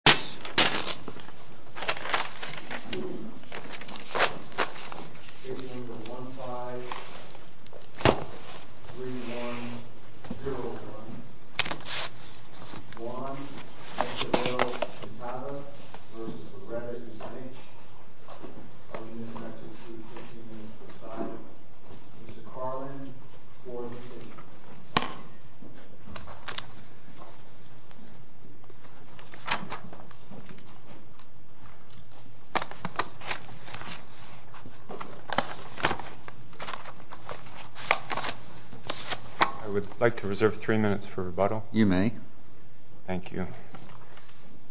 However, Munoz and Cummings three years. The winner is Judge Joel Michael Carlin. I would like to reserve three minutes for rebuttal. Thank you.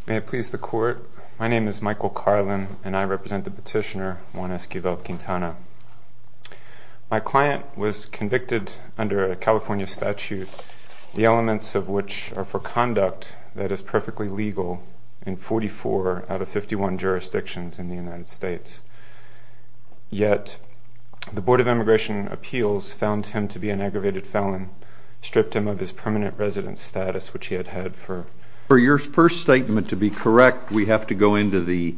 May it please the court, my name is Michael Carlin and I represent the petitioner, Juan Esquivel-Quintana. My client was convicted under a California statute, the elements of which are for conduct that is perfectly legal in forty-four out of fifty-one jurisdictions in the United States. Yet, the Board of Immigration Appeals found him to be an aggravated felon, stripped him of his permanent residence status which he had had for... For your first statement to be correct, we have to go into the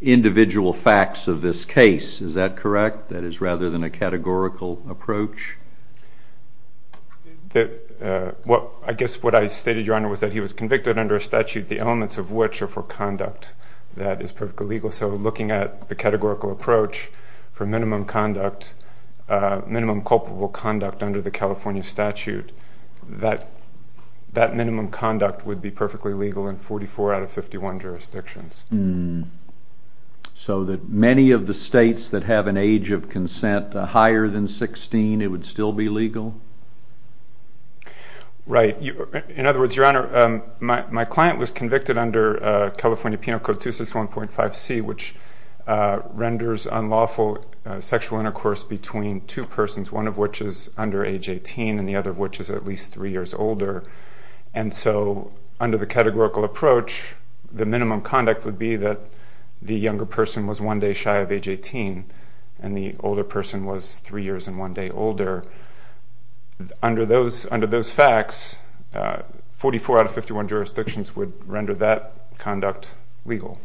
individual facts of this case, is that correct? That is rather than a I guess what I stated, Your Honor, was that he was convicted under a statute, the elements of which are for conduct that is perfectly legal, so looking at the categorical approach for minimum conduct, minimum culpable conduct under the California statute, that minimum conduct would be perfectly legal in forty-four out of fifty-one jurisdictions. So that many of the states that have an age of consent higher than sixteen, it would still be legal? Right. In other words, Your Honor, my client was convicted under California Penal Code 261.5c, which renders unlawful sexual intercourse between two persons, one of which is under age eighteen and the other which is at least three years older, and so under the categorical approach, the minimum conduct would be that the younger person was one day shy of age eighteen and the older person was three years and one day older. Under those facts, forty-four out of fifty-one jurisdictions would render that conduct legal,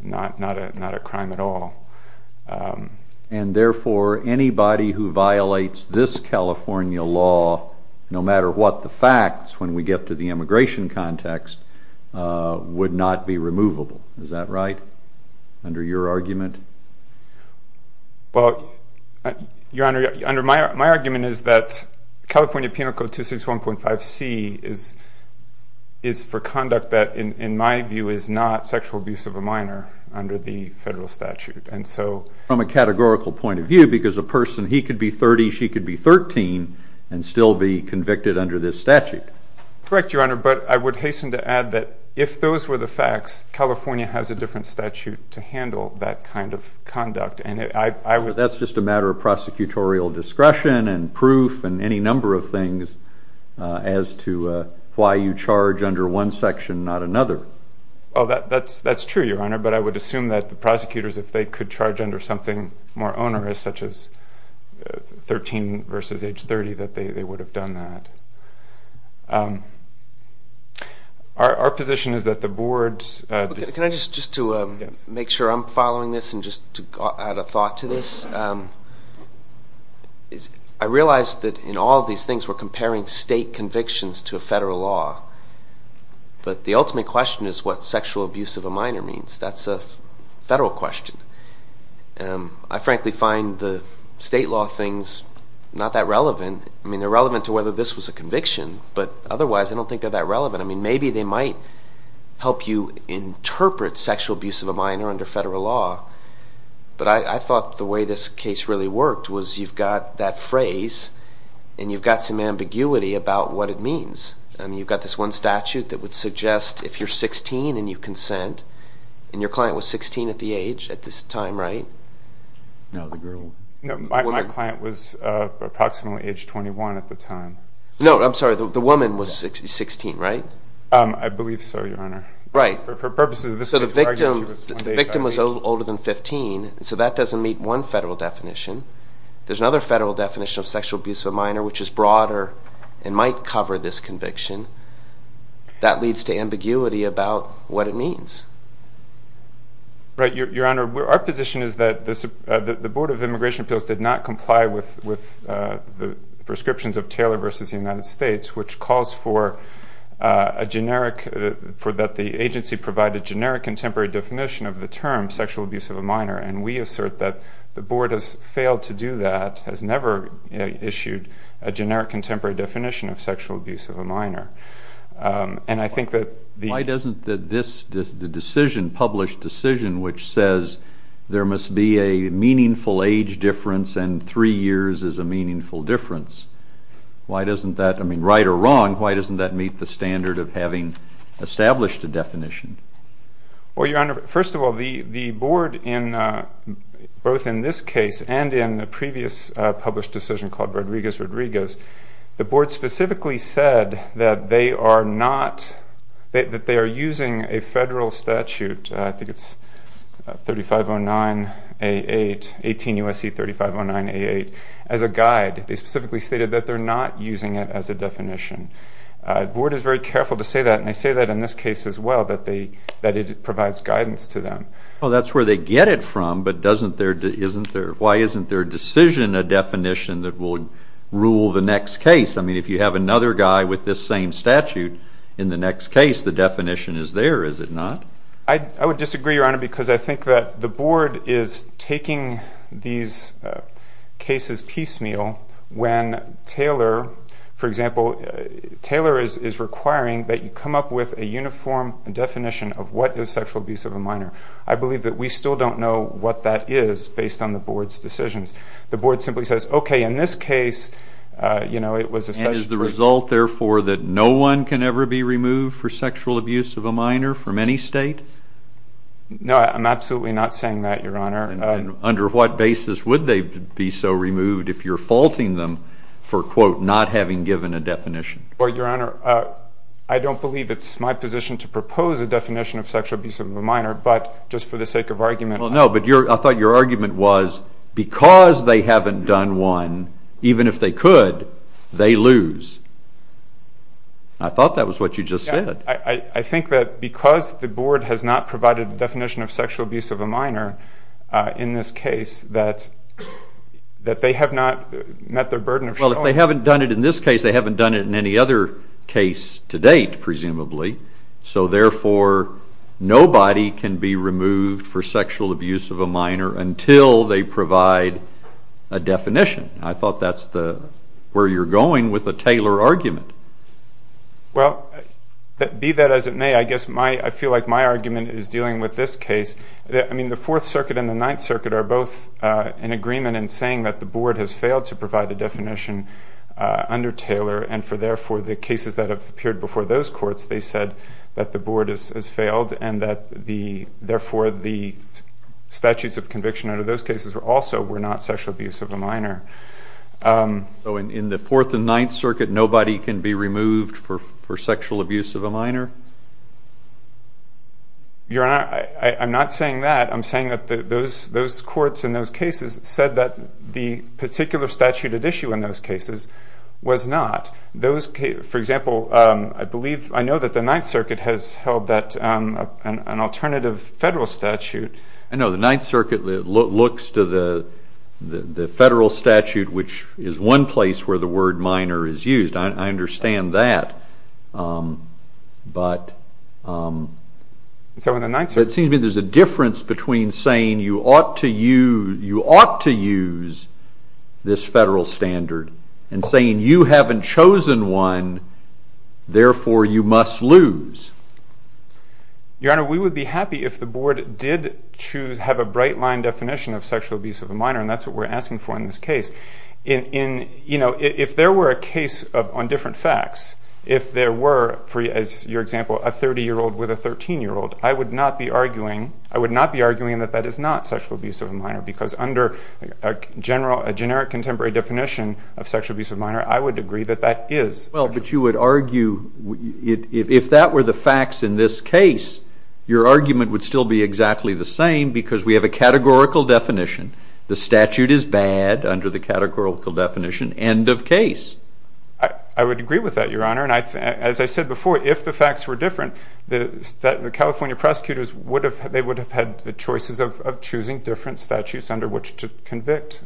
not a crime at all. And therefore anybody who violates this California law, no matter what the facts, when we get to the immigration context, would not be removable, is that right, under your argument? Your Honor, my argument is that California Penal Code 261.5c is for conduct that, in my view, is not sexual abuse of a minor under the federal statute. From a categorical point of view, because a person, he could be thirty, she could be thirteen and still be convicted under this statute. Correct, Your Honor, but I would hasten to add that if those were the facts, California has a different statute to handle that kind of conduct. That's just a matter of prosecutorial discretion and proof and any number of things as to why you charge under one section, not another. That's true, Your Honor, but I would assume that the prosecutors, if they could charge under something more onerous, such as thirteen versus age thirty, that they would have done that. Our position is that the Board's... Can I just, just to make sure I'm following this and just to add a thought to this, I realize that in all these things we're comparing state convictions to a federal law, but the ultimate question is what sexual abuse of a minor means. That's a federal question. I frankly find the state law things not that relevant. I mean, they're relevant to whether this was a conviction, but otherwise I don't think they're that relevant. I mean, maybe they might help you interpret sexual abuse of a minor under federal law, but I thought the way this case really worked was you've got that phrase and you've got some ambiguity about what it means. I mean, you've got this one statute that would suggest if you're sixteen and you consent, and your client was sixteen at the age at this time, right? No, the girl... No, my client was approximately age twenty-one at the time. No, I'm sorry, the woman was sixteen, right? I believe so, Your Honor. Right. So the victim was older than fifteen, so that doesn't meet one federal definition. There's another federal definition of sexual abuse of a minor which is broader and might cover this conviction. That leads to ambiguity about what it means. Right, Your Honor. Our position is that the Board of Immigration Appeals did not comply with the prescriptions of Taylor v. United States, which calls for that the agency provide a generic contemporary definition of the term sexual abuse of a minor, and we assert that the Board has failed to do that, has never issued a generic contemporary definition of sexual abuse of a minor. And I think that... Why doesn't the decision, the published decision, which says there must be a meaningful age difference and three years is a meaningful difference, why doesn't that, I mean, right or wrong, why doesn't that meet the standard of having established a definition? Well, Your Honor, first of all, the Board in both in this case and in the previous published decision called Rodriguez Rodriguez, the Board specifically said that they are not, that they are using a federal statute, I think it's 3509A8, 18 U.S.C. 3509A8, as a guide. They specifically stated that they're not using it as a definition. The Board is very careful to say that, and they say that in this case as well, that they, that it provides guidance to them. Well, that's where they get it from, but doesn't their, isn't their, why isn't their decision a definition that will rule the next case? I mean, if you have another guy with this same statute in the next case, the definition is there, is it not? I would disagree, Your Honor, because I think that the Board is taking these cases piecemeal when Taylor, for example, Taylor is requiring that you come up with a uniform definition of what is sexual abuse of a minor. I believe that we still don't know what that is based on the Board's decisions. The Board simply says, okay, in this case, you know, it was a statute... And is the result, therefore, that no one can ever be removed for sexual abuse of a minor from any state? No, I'm absolutely not saying that, Your Honor. And under what basis would they be so removed if you're faulting them for, quote, not having given a definition? Well, Your Honor, I don't believe it's my position to propose a definition of sexual abuse of a minor, but just for the sake of argument... Well, no, but I thought your argument was because they haven't done one, even if they could, they lose. I thought that was what you just said. I think that because the Board has not provided a definition of sexual abuse of a minor in this case, that they have not met their burden of showing... Well, if they haven't done it in this case, they haven't done it in any other case to date, presumably. So, therefore, nobody can be removed for sexual abuse of a minor until they provide a definition. I thought that's where you're going with the Taylor argument. Well, be that as it may, I feel like my argument is dealing with this case. I mean, the Fourth Circuit and the Ninth Circuit are both in agreement in saying that the Board has failed to provide a definition under Taylor, and for, therefore, the cases that have appeared before those courts, they said that the Board has failed and that, therefore, the statutes of conviction under those cases also were not sexual abuse of a minor. So, in the Fourth and Ninth Circuit, nobody can be removed for sexual abuse of a minor? I'm not saying that. I'm saying that those courts in those cases said that the particular statute at issue in those cases was not. For example, I believe, I know that the Ninth Circuit has held that an alternative federal statute. I know. The Ninth Circuit looks to the federal statute, which is one place where the word minor is used. I understand that, but... So, in the Ninth Circuit... It seems to me there's a difference between saying you ought to use this federal standard and saying you haven't chosen one, therefore, you must lose. Your Honor, we would be happy if the Board did choose, have a bright line definition of sexual abuse of a minor, and that's what we're asking for in this case. If there were a case on different facts, if there were, as your example, a thirty-year-old with a thirteen-year-old, of sexual abuse of a minor, I would agree that that is... Well, but you would argue if that were the facts in this case, your argument would still be exactly the same because we have a categorical definition. The statute is bad under the categorical definition, end of case. I would agree with that, Your Honor, and as I said before, if the facts were different, the California prosecutors would have had the choices of choosing different statutes under which to convict.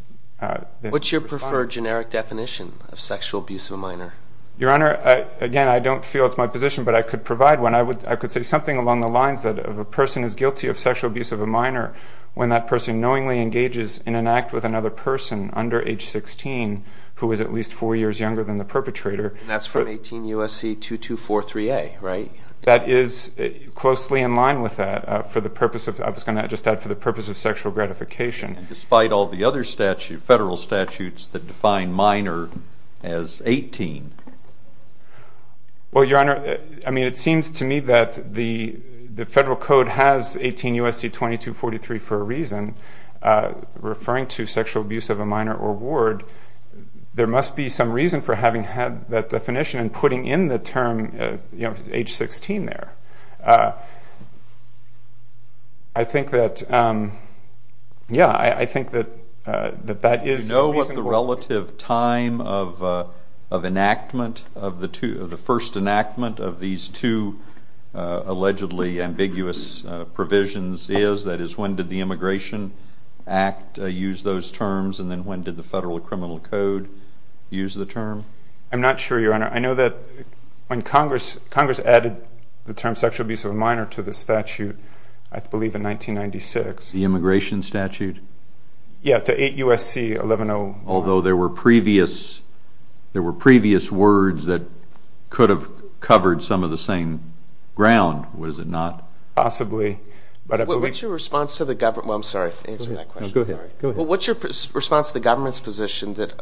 What's your preferred generic definition of sexual abuse of a minor? Your Honor, again, I don't feel it's my position, but I could provide one. I would, I could say something along the lines that if a person is guilty of sexual abuse of a minor, when that person knowingly engages in an act with another person under age sixteen who is at least four years younger than the perpetrator... That's from 18 U.S.C. 2243A, right? That is closely in line with that for the purpose of, I was going to just add, for the purpose of sexual gratification. Despite all the other federal statutes that define minor as 18. Well, Your Honor, I mean, it seems to me that the Federal Code has 18 U.S.C. 2243 for a reason. Referring to sexual abuse of a minor or ward, there must be some reason for having had that definition and putting in the term, you know, age sixteen there. I think that, yeah, I think that that is... Do you know what the relative time of enactment, of the first enactment of these two allegedly ambiguous provisions is? That is, when did the Immigration Act use those terms, and then when did the Federal Criminal Code use the term? I'm not sure, Your Honor. I know that when Congress, Congress added the term sexual abuse of a minor to the statute, I believe in 1996. The immigration statute? Yeah, to 8 U.S.C. 1101. Although there were previous, there were previous words that could have covered some of the same ground, was it not? Possibly, but I believe... What's your response to the government, well, I'm sorry, answering that question. Go ahead. What's your response to the government's position that,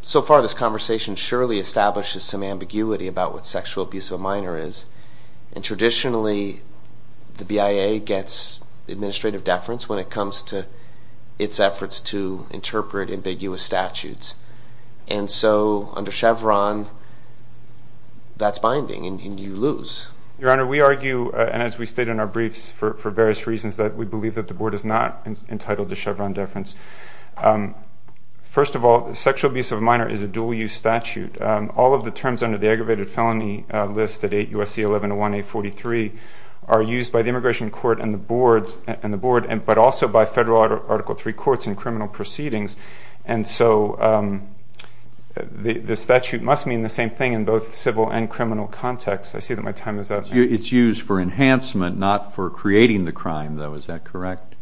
so far this conversation surely establishes some ambiguity about what sexual abuse of a minor is, and traditionally the BIA gets administrative deference when it comes to its efforts to interpret ambiguous statutes. And so, under Chevron, that's binding, and you lose. Your Honor, we argue, and as we state in our briefs, for various reasons that we believe that the Board is not entitled to Chevron deference. First of all, sexual abuse of a minor is a dual-use statute. All of the terms under the aggravated felony list at 8 U.S.C. 1101-843 are used by the Immigration Court and the Board, but also by Federal Article III courts and criminal proceedings. And so, the statute must mean the same thing in both civil and criminal contexts. I see that my time is up. It's used for enhancement, not for creating the crime, though, is that correct?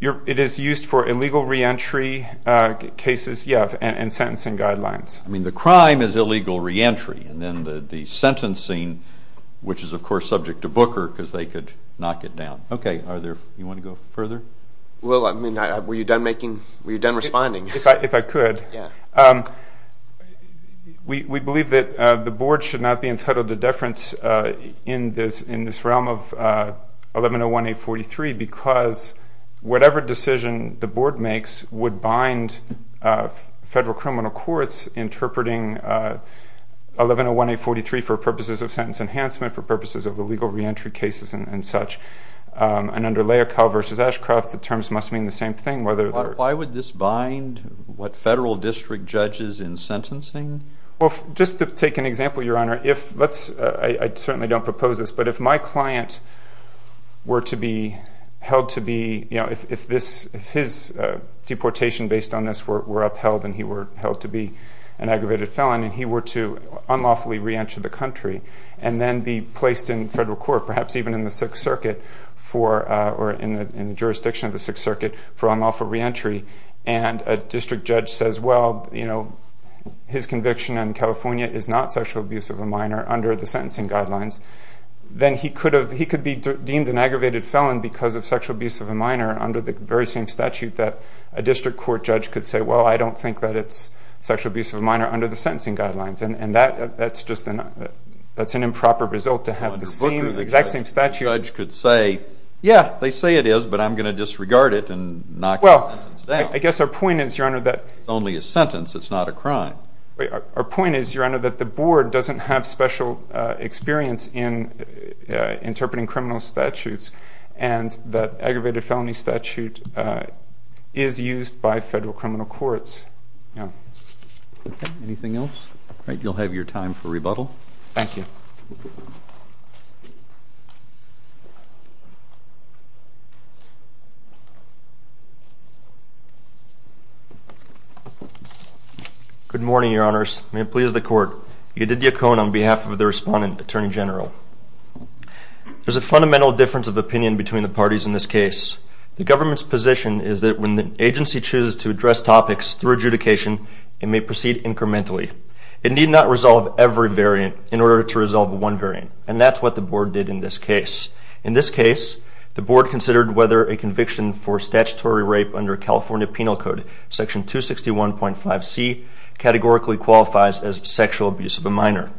It is used for illegal re-entry cases, yeah, and sentencing guidelines. I mean, the crime is illegal re-entry, and then the sentencing, which is, of course, subject to Booker, because they could knock it down. Okay, are there, you want to go further? Will, I mean, were you done making, were you done responding? If I could. We believe that the Board should not be entitled to deference in this realm of whatever decision the Board makes would bind Federal criminal courts interpreting 1101-843 for purposes of sentence enhancement, for purposes of illegal re-entry cases and such. And under Layakow v. Ashcroft, the terms must mean the same thing, whether they're... Why would this bind what Federal district judges in sentencing? Well, just to take an example, Your Honor, if, let's, I certainly don't propose this, but if my client were to be held to be, you know, if this, if his deportation based on this were upheld, and he were held to be an aggravated felon, and he were to unlawfully re-enter the country, and then be placed in Federal court, perhaps even in the Sixth Circuit for, or in the jurisdiction of the Sixth Circuit for unlawful re-entry, and a district judge says, well, you know, his conviction in California is not sexual abuse of a minor under the sentencing guidelines, then he could have, he could be deemed an aggravated felon because of sexual abuse of a minor under the very same statute that a district court judge could say, well, I don't think that it's sexual abuse of a minor under the sentencing guidelines. And that, that's just an, that's an improper result to have the same, exact same statute. Under Booker, the judge could say, yeah, they say it is, but I'm going to disregard it and knock the sentence down. Well, I guess our point is, Your Honor, that... Our point is, Your Honor, that the board doesn't have special experience in interpreting criminal statutes, and that aggravated felony statute is used by Federal criminal courts. Anything else? All right, you'll have your time for rebuttal. Thank you. Good morning, Your Honors. May it please the Court, Edith Yacon on behalf of the Respondent, Attorney General. There's a fundamental difference of opinion between the parties in this case. The government's position is that when the agency chooses to address topics through adjudication, it may proceed incrementally. It need not resolve every variant in order to resolve one variant. And that's what the board did in this case. In this case, the board considered whether a conviction for statutory rape under California Penal Code, Section 261.5c, categorically qualifies as sexual abuse of a minor.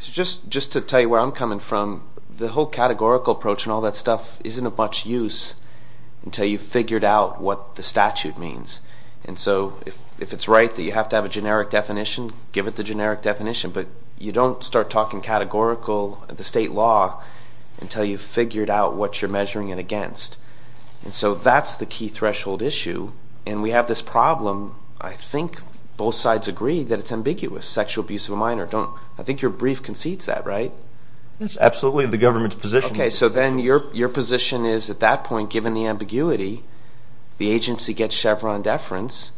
Just to tell you where I'm coming from, the whole categorical approach and all that stuff isn't of much use until you've figured out what the statute means. And so if it's right that you have to have a generic definition, give it the generic definition. But you don't start talking categorical, the state law, until you've figured out what you're measuring it against. And so that's the key threshold issue. And we have this problem. I think both sides agree that it's ambiguous, sexual abuse of a minor. I think your brief concedes that, right? Absolutely, the government's position. Okay, so then your position is at that point, given the ambiguity, the agency gets Chevron deference,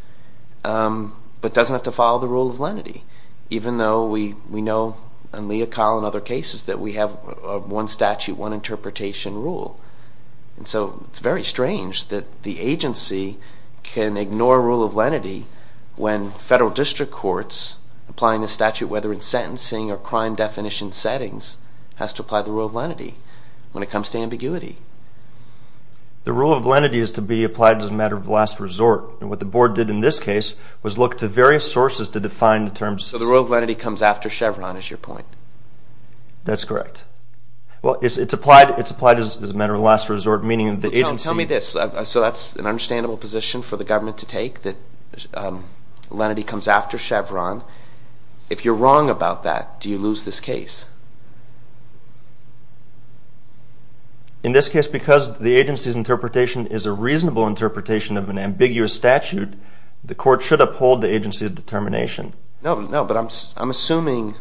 but doesn't have to follow the rule of lenity, even though we know in Lea Collin and other cases that we have one statute, one interpretation rule. And so it's very strange that the agency can ignore rule of lenity when federal district courts applying the statute, whether in sentencing or crime definition settings, has to apply the rule of lenity when it comes to ambiguity. The rule of lenity is to be applied as a matter of last resort. And what the board did in this case was look to various sources to define the terms. So the rule of lenity comes after Chevron, is your point? That's correct. Well, it's applied as a matter of last resort, meaning that the agency... Tell me this, so that's an understandable position for the government to take, that lenity comes after Chevron. If you're wrong about that, do you lose this case? In this case, because the agency's interpretation is a reasonable interpretation of an ambiguous statute, the court should uphold the agency's determination. No, no, but I'm assuming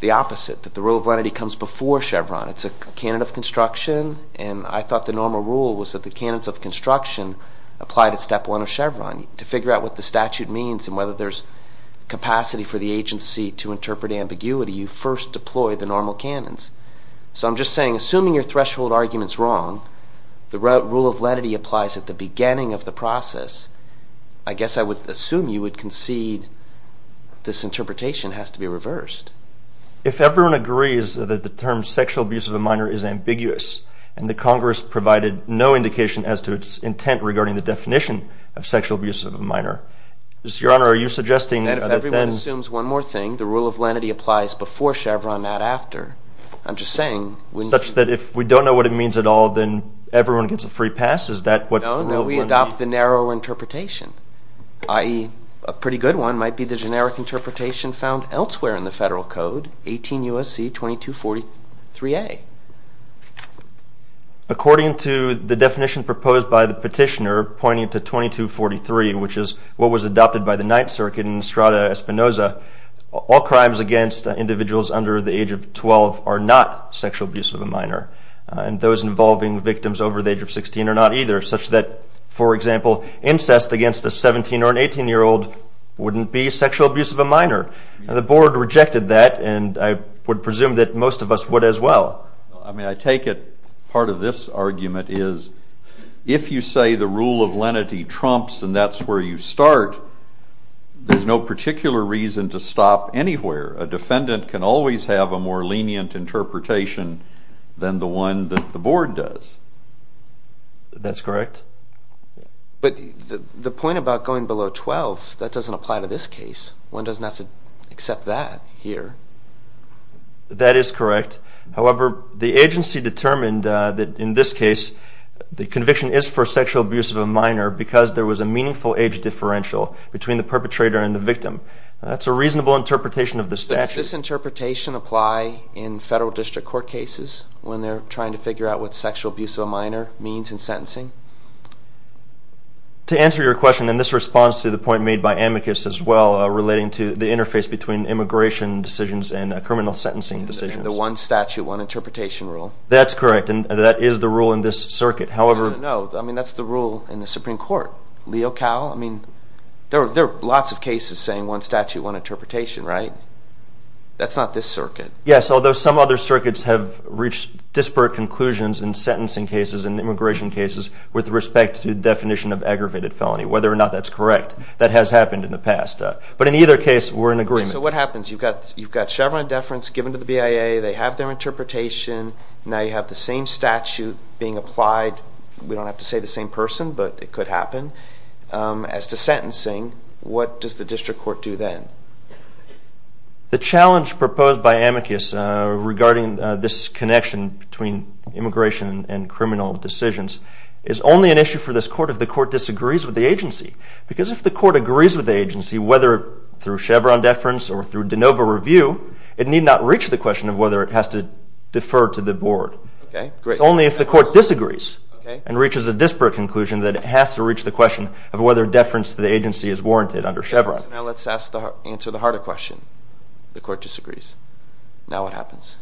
the opposite, that the rule of lenity comes before Chevron. It's a candidate of construction, and I thought the normal rule was that the candidates of construction applied at step one of Chevron. To figure out what the statute means and whether there's capacity for the agency to interpret ambiguity, you first deploy the agency's determination. And then you apply the normal canons. So I'm just saying, assuming your threshold argument's wrong, the rule of lenity applies at the beginning of the process, I guess I would assume you would concede this interpretation has to be reversed. If everyone agrees that the term sexual abuse of a minor is ambiguous, and the Congress provided no indication as to its intent regarding the definition of sexual abuse of a minor, Your Honor, are you suggesting that then... I'm just saying... Such that if we don't know what it means at all, then everyone gets a free pass? Is that what... No, no, we adopt the narrow interpretation, i.e. a pretty good one might be the generic interpretation found elsewhere in the Federal Code, 18 U.S.C. 2243A. According to the definition proposed by the petitioner pointing to 2243, which is what was adopted by the Ninth Circuit in Estrada Espinoza, all crimes against individuals under the age of 12 are not sexual abuse of a minor. And those involving victims over the age of 16 are not either, such that, for example, incest against a 17 or an 18-year-old wouldn't be sexual abuse of a minor. The Board rejected that, and I would presume that most of us would as well. I mean, I take it part of this argument is, if you say the rule of lenity trumps and that's where you start, there's no particular reason to stop anywhere. A defendant can always have a more lenient interpretation than the one that the Board does. That's correct. But the point about going below 12, that doesn't apply to this case. One doesn't have to accept that here. That is correct. However, the agency determined that in this case, the conviction is for sexual abuse of a minor because there was a meaningful age differential. Between the perpetrator and the victim. That's a reasonable interpretation of the statute. Does this interpretation apply in federal district court cases when they're trying to figure out what sexual abuse of a minor means in sentencing? To answer your question, and this responds to the point made by Amicus as well, relating to the interface between immigration decisions and criminal sentencing decisions. The one statute, one interpretation rule. That's correct, and that is the rule in this circuit. However... No, I mean, that's the rule in the Supreme Court. I mean, there are lots of cases saying one statute, one interpretation, right? That's not this circuit. Yes, although some other circuits have reached disparate conclusions in sentencing cases and immigration cases with respect to the definition of aggravated felony, whether or not that's correct. That has happened in the past. But in either case, we're in agreement. So what happens? You've got Chevron deference given to the BIA. They have their interpretation. Now you have the same statute being applied. We don't have to say the same person, but it could happen. As to sentencing, what does the district court do then? The challenge proposed by Amicus regarding this connection between immigration and criminal decisions is only an issue for this court if the court disagrees with the agency. Because if the court agrees with the agency, whether through Chevron deference or through de novo review, it need not reach the question of whether it has to defer to the board. Okay, great. Only if the court disagrees and reaches a disparate conclusion that it has to reach the question of whether deference to the agency is warranted under Chevron. Now let's answer the harder question. The court disagrees. Now what happens?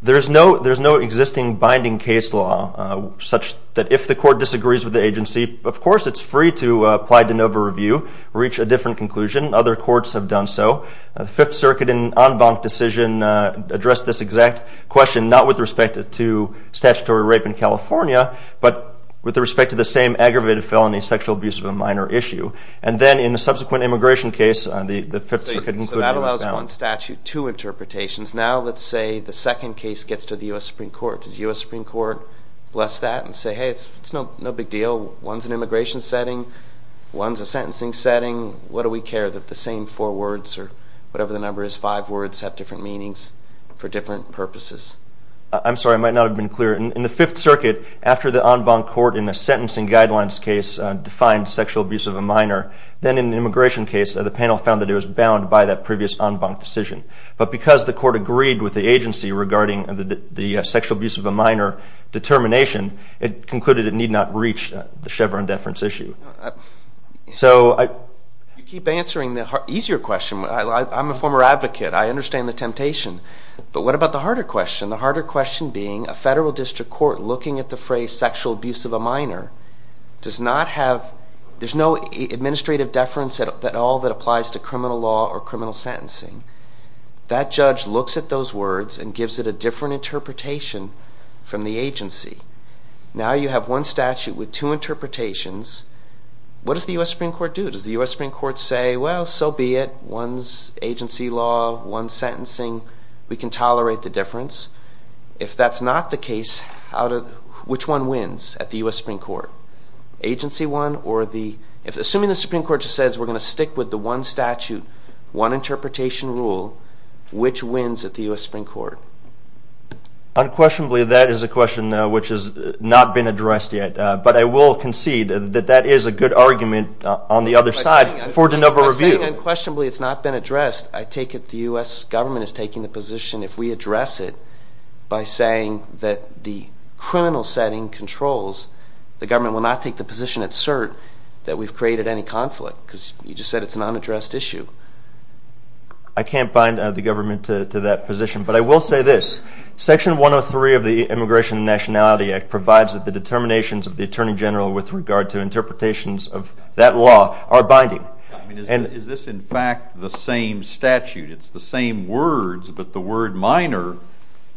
There's no existing binding case law such that if the court disagrees with the agency, of course it's free to apply de novo review, reach a different conclusion. Other courts have done so. The Fifth Circuit in en banc decision addressed this exact question, not with respect to statutory rape in California, but with respect to the same aggravated felony, sexual abuse of a minor issue. And then in a subsequent immigration case, the Fifth Circuit concluded that was bound. So that allows one statute, two interpretations. Now let's say the second case gets to the U.S. Supreme Court. Does the U.S. Supreme Court bless that and say, hey, it's no big deal. One's an immigration setting. One's a sentencing setting. What do we care that the same four words or whatever the number is, five words have different meanings for different purposes? I'm sorry. I might not have been clear. In the Fifth Circuit, after the en banc court in the sentencing guidelines case defined sexual abuse of a minor, then in the immigration case, the panel found that it was bound by that previous en banc decision. But because the court agreed with the agency regarding the sexual abuse of a minor determination, it concluded it need not reach the Chevron deference issue. So I... You keep answering the easier question. I'm a former advocate. I understand the temptation. But what about the harder question? The harder question being, a federal district court looking at the phrase sexual abuse of a minor does not have... There's no administrative deference at all that applies to criminal law or criminal sentencing. That judge looks at those words and gives it a different interpretation from the agency. Now you have one statute with two interpretations. What does the U.S. Supreme Court do? Does the U.S. Supreme Court say, well, so be it. One's agency law. One's sentencing. We can tolerate the difference. If that's not the case, which one wins at the U.S. Supreme Court? Agency one or the... Assuming the Supreme Court just says we're going to stick with the one statute, one interpretation rule, which wins at the U.S. Supreme Court? Unquestionably, that is a question which has not been addressed yet. But I will concede that that is a good argument on the other side for de novo review. Unquestionably, it's not been addressed. I take it the U.S. government is taking the position if we address it by saying that the criminal setting controls, the government will not take the position at cert that we've created any conflict because you just said it's an unaddressed issue. I can't bind the government to that position, but I will say this. Section 103 of the Immigration and Nationality Act provides that the determinations of the Attorney General with regard to interpretations of that law are binding. Is this in fact the same statute? It's the same words, but the word minor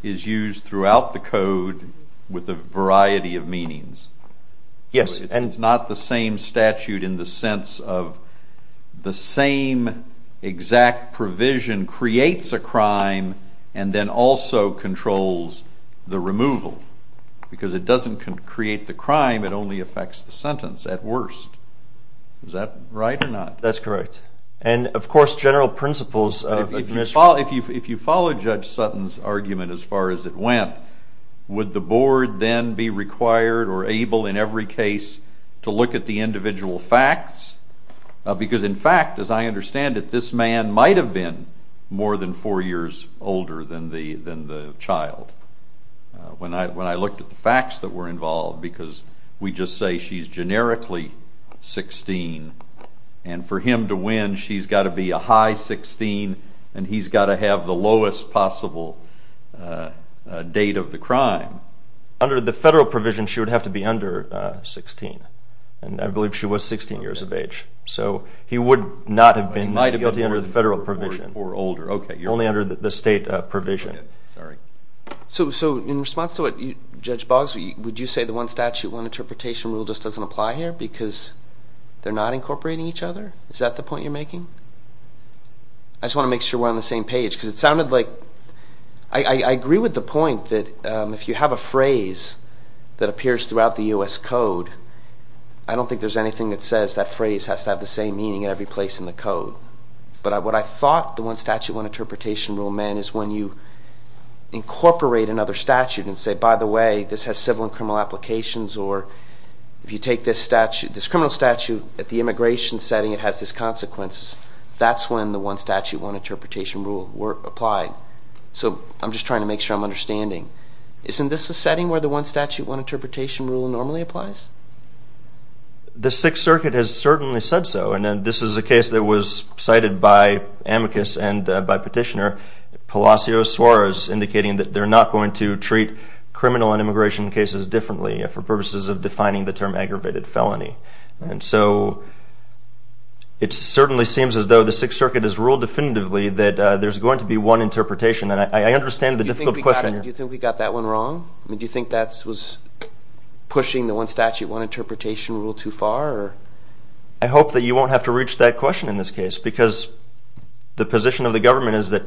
is used throughout the code with a variety of meanings. Yes. It's not the same statute in the sense of the same exact provision creates a crime and then also controls the removal. Because it doesn't create the crime, it only affects the sentence at worst. Is that right or not? That's correct. And of course, general principles... If you follow Judge Sutton's argument as far as it went, would the board then be required or able in every case to look at the individual facts? Because in fact, as I understand it, this man might have been more than four years older than the child. When I looked at the facts that were involved because we just say she's generically 16 and for him to win, she's got to be a high 16 and he's got to have the lowest possible date of the crime. Under the federal provision, she would have to be under 16. And I believe she was 16 years of age. So he would not have been guilty under the federal provision. Or older. Okay. Only under the state provision. Sorry. So in response to what Judge Boggs, would you say the one statute, one interpretation rule just doesn't apply here because they're not incorporating each other? Is that the point you're making? I just want to make sure we're on the same page because it sounded like... I agree with the point that if you have a phrase that appears throughout the U.S. Code, I don't think there's anything that says that phrase has to have the same meaning at every place in the code. But what I thought the one statute, one interpretation rule meant is when you incorporate another statute and say, by the way, this has civil and criminal applications or if you take this statute, this criminal statute at the immigration setting, it has this consequence. That's when the one statute, one interpretation rule were applied. So I'm just trying to make sure I'm understanding. Isn't this a setting where the one statute, one interpretation rule normally applies? The Sixth Circuit has certainly said so. And this is a case that was cited by amicus and by petitioner, Palacios Suarez, indicating that they're not going to treat criminal and immigration cases differently. For purposes of defining the term aggravated felony. And so it certainly seems as though the Sixth Circuit has ruled definitively that there's going to be one interpretation. And I understand the difficult question. Do you think we got that one wrong? Do you think that was pushing the one statute, one interpretation rule too far? I hope that you won't have to reach that question in this case because the position of the government is that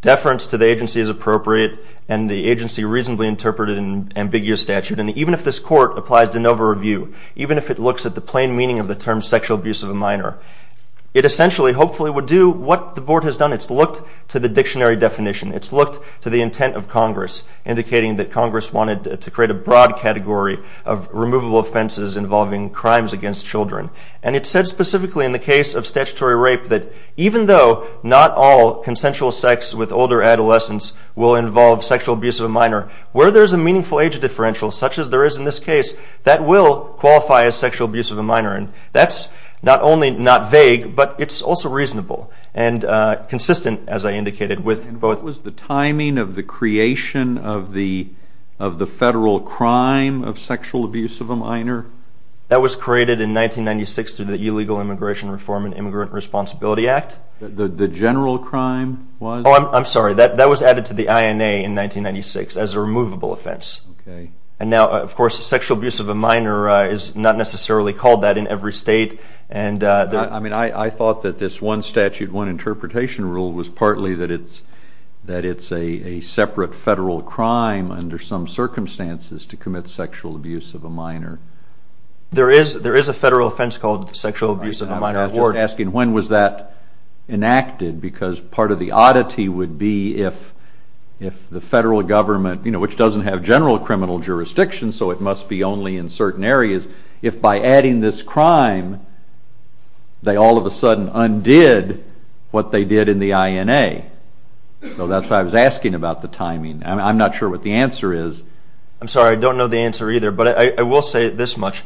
deference to the agency is appropriate and the agency reasonably interpreted an ambiguous statute. And even if this court applies de novo review, even if it looks at the plain meaning of the term sexual abuse of a minor, it essentially, hopefully would do what the board has done. It's looked to the dictionary definition. It's looked to the intent of Congress, indicating that Congress wanted to create a broad category of removable offenses involving crimes against children. And it said specifically in the case of statutory rape that even though not all consensual sex with older adolescents will involve sexual abuse of a minor, where there's a meaningful age differential, such as there is in this case, that will qualify as sexual abuse of a minor. And that's not only not vague, but it's also reasonable and consistent, as I indicated, with both... What was the timing of the creation of the federal crime of sexual abuse of a minor? That was created in 1996 through the Illegal Immigration Reform and Immigrant Responsibility Act. The general crime was? Oh, I'm sorry. That was added to the INA in 1996 as a removable offense. And now, of course, sexual abuse of a minor is not necessarily called that in every state. I thought that this one statute, one interpretation rule, was partly that it's a separate federal crime under some circumstances to commit sexual abuse of a minor. There is a federal offense called sexual abuse of a minor. I was just asking, when was that enacted? Because part of the oddity would be if the federal government, which doesn't have general criminal jurisdiction, so it must be only in certain areas, if by adding this crime, they all of a sudden undid what they did in the INA. So that's why I was asking about the timing. I'm not sure what the answer is. I'm sorry, I don't know the answer either, but I will say this much.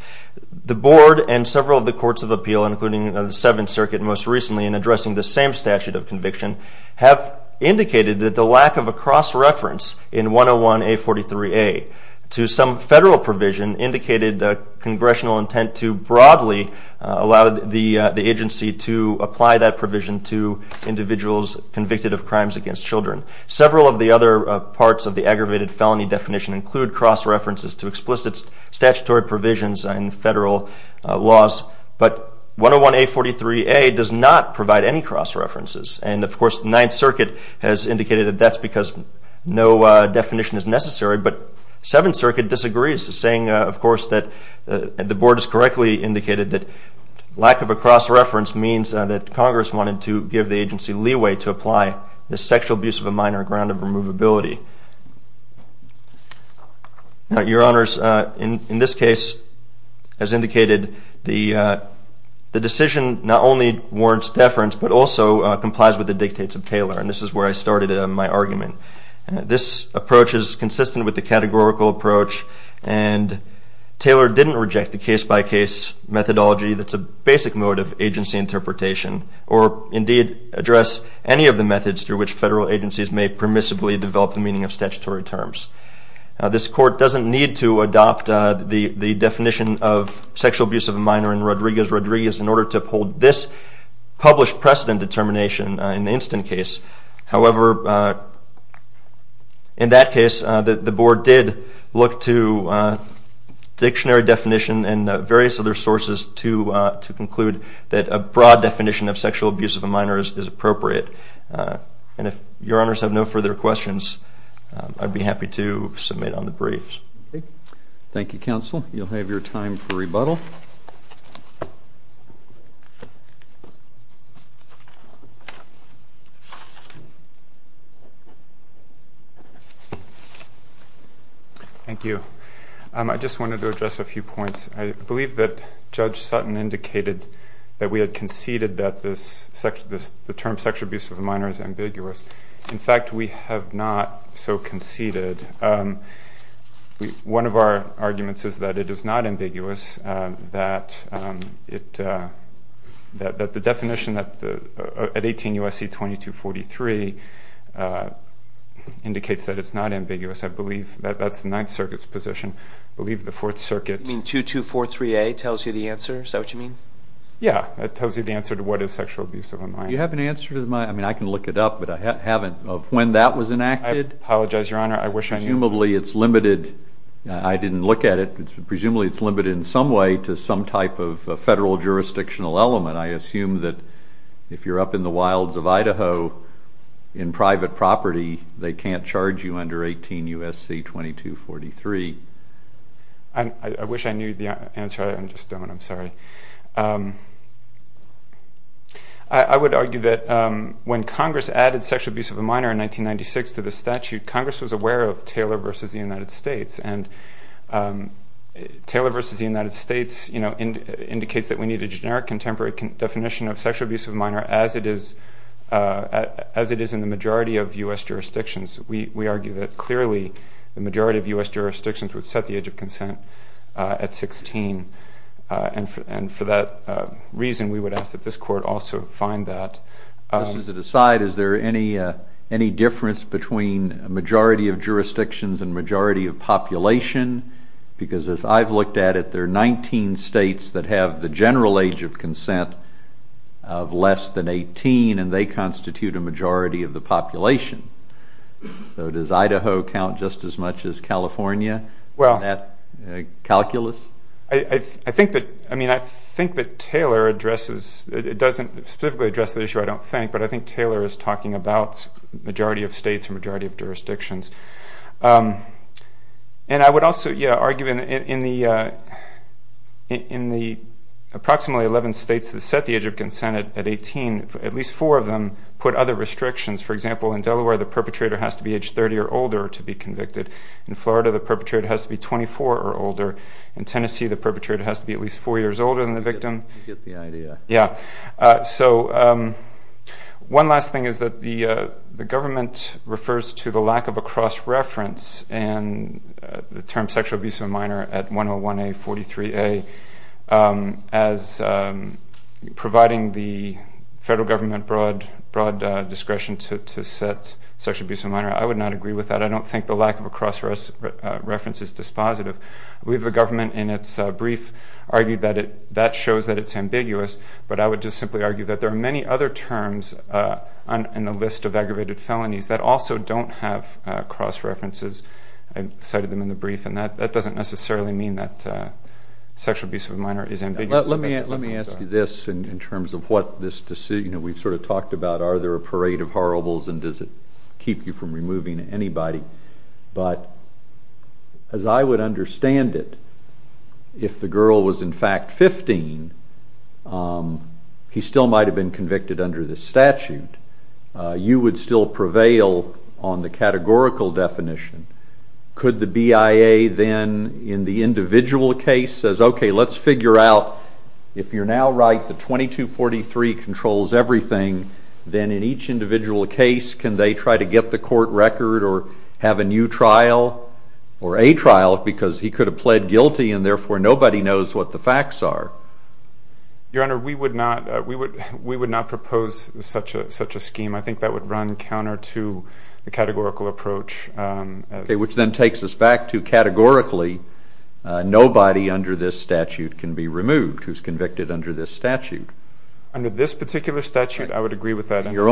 The board and several of the courts of appeal, including the Seventh Circuit most recently in addressing the same statute of conviction, have indicated that the lack of a cross-reference in 101-A43-A to some federal provision indicated congressional intent to broadly allow the agency to apply that provision to individuals convicted of crimes against children. Several of the other parts of the aggravated felony definition include cross-references to explicit statutory provisions in federal laws, but 101-A43-A does not provide any cross-references. And of course, the Ninth Circuit has indicated that that's because no definition is necessary, but Seventh Circuit disagrees, saying, of course, that the board has correctly indicated that lack of a cross-reference means that Congress wanted to give the agency leeway to apply the sexual abuse of a minor ground of removability. Your Honors, in this case, as indicated, the decision not only warrants deference, but also complies with the dictates of Taylor. And this is where I started my argument. This approach is consistent with the categorical approach, and Taylor didn't reject the case-by-case methodology that's a basic mode of agency interpretation, or indeed address any of the methods through which federal agencies may permissibly develop the meaning of statutory terms. This Court doesn't need to adopt the definition of sexual abuse of a minor in Rodriguez-Rodriguez in order to uphold this published precedent determination in the instant case. However, in that case, the board did look to dictionary definition and various other sources to conclude that a broad definition of sexual abuse of a minor is appropriate. And if Your Honors have no further questions, I'd be happy to submit on the briefs. Okay. Thank you, counsel. You'll have your time for rebuttal. Thank you. I just wanted to address a few points. I believe that Judge Sutton indicated that we had conceded that the term sexual abuse of a minor is ambiguous. In fact, we have not so conceded. One of our arguments that the definition at 18-year-olds of sexual abuse of a minor is not ambiguous. USC 2243 indicates that it's not ambiguous. I believe that's the Ninth Circuit's position. I believe the Fourth Circuit... You mean 2243A tells you the answer? Is that what you mean? Yeah, it tells you the answer to what is sexual abuse of a minor. Do you have an answer to my... I mean, I can look it up, but I haven't of when that was enacted. I apologize, Your Honor. I wish I knew. Presumably, it's limited. I didn't look at it. Presumably, it's limited in some way to some type of federal jurisdictional element. I assume that if you're up in the wilds of Idaho in private property, they can't charge you under 18 USC 2243. I wish I knew the answer. I just don't. I'm sorry. I would argue that when Congress added sexual abuse of a minor in 1996 to the statute, Congress was aware of Taylor versus the United States. And Taylor versus the United States indicates that we need a generic contemporary definition of sexual abuse as it is in the majority of U.S. jurisdictions. We argue that clearly the majority of U.S. jurisdictions would set the age of consent at 16. And for that reason, we would ask that this court also find that. Just as an aside, is there any difference between a majority of jurisdictions and majority of population? Because as I've looked at it, there are 19 states that have the general age of consent of less than 18, and they constitute a majority of the population. So does Idaho count just as much as California? Well, I think that Taylor addresses, it doesn't specifically address the issue, I don't think, but I think Taylor is talking about majority of states and majority of jurisdictions. And I would also argue in the approximately 11 states that set the age of consent at 18, at least four of them put other restrictions. For example, in Delaware, the perpetrator has to be aged 30 or older to be convicted. In Florida, the perpetrator has to be 24 or older. In Tennessee, the perpetrator has to be at least four years older than the victim. You get the idea. Yeah. So one last thing is that the government refers to the lack of a cross-reference and the term sexual abuse of a minor at 101A, 43A as providing the federal government broad discretion to set sexual abuse of a minor. I would not agree with that. I don't think the lack of a cross-reference is dispositive. I believe the government in its brief argued that that shows that it's ambiguous, but I would just simply argue that there are many other terms in the list of aggravated felonies that also don't have cross-references. I cited them in the brief and that doesn't necessarily mean that sexual abuse of a minor is ambiguous. Let me ask you this in terms of what this decision, we've sort of talked about are there a parade of horribles and does it keep you from removing anybody, but as I would understand it, if the girl was in fact 15, he still might have been convicted under this statute, you would still prevail on the categorical definition. Could the BIA then in the individual case says, okay, let's figure out if you're now right, the 2243 controls everything, then in each individual case can they try to get the court record or have a new trial or a trial because he could have pled guilty and therefore nobody knows what the facts are? Your Honor, we would not propose such a scheme. I think that would run counter to the categorical approach. Which then takes us back to categorically nobody under this statute can be removed who's convicted under this statute. Under this particular statute, I would agree with that. Your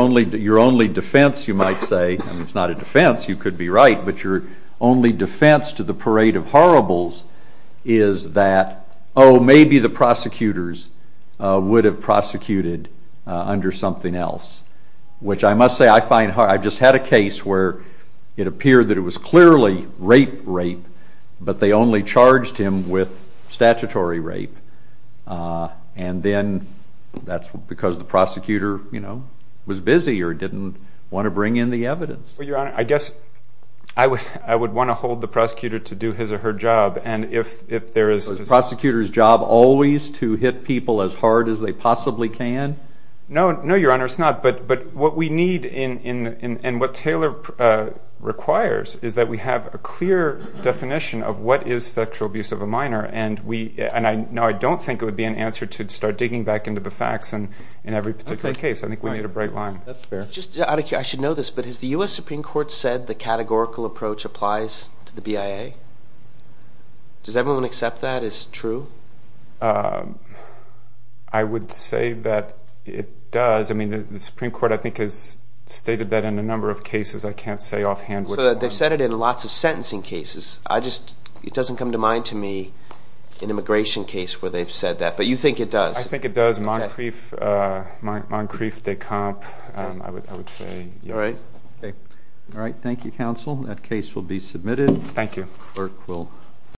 only defense, you might say, it's not a defense, you could be right, but your only defense to the parade of horribles is that, oh, maybe the prosecutors would have prosecuted under something else, which I must say I find hard. I just had a case where it appeared that it was clearly rape, rape, but they only charged him with statutory rape and then that's because the prosecutor was busy or didn't want to bring in the evidence. Well, Your Honor, I guess I would want to hold the prosecutor to do his or her job and if there is... Is the prosecutor's job always to hit people as hard as they possibly can? No, Your Honor, it's not, but what we need and what Taylor requires is that we have a clear definition of what is sexual abuse of a minor and I don't think it would be an answer to start digging back into the facts in every particular case. I think we need a bright line. That's fair. Just out of curiosity, I should know this, but has the U.S. Supreme Court said the categorical approach applies to the BIA? Does everyone accept that as true? I would say that it does. I mean, the Supreme Court, I think, has stated that in a number of cases. I can't say offhand. So they've said it in lots of sentencing cases. It doesn't come to mind to me an immigration case where they've said that, but you think it does? I think it does. Moncrief de Camp, I would say, yes. All right. All right. Thank you, counsel. That case will be submitted. Thank you. Clerk will...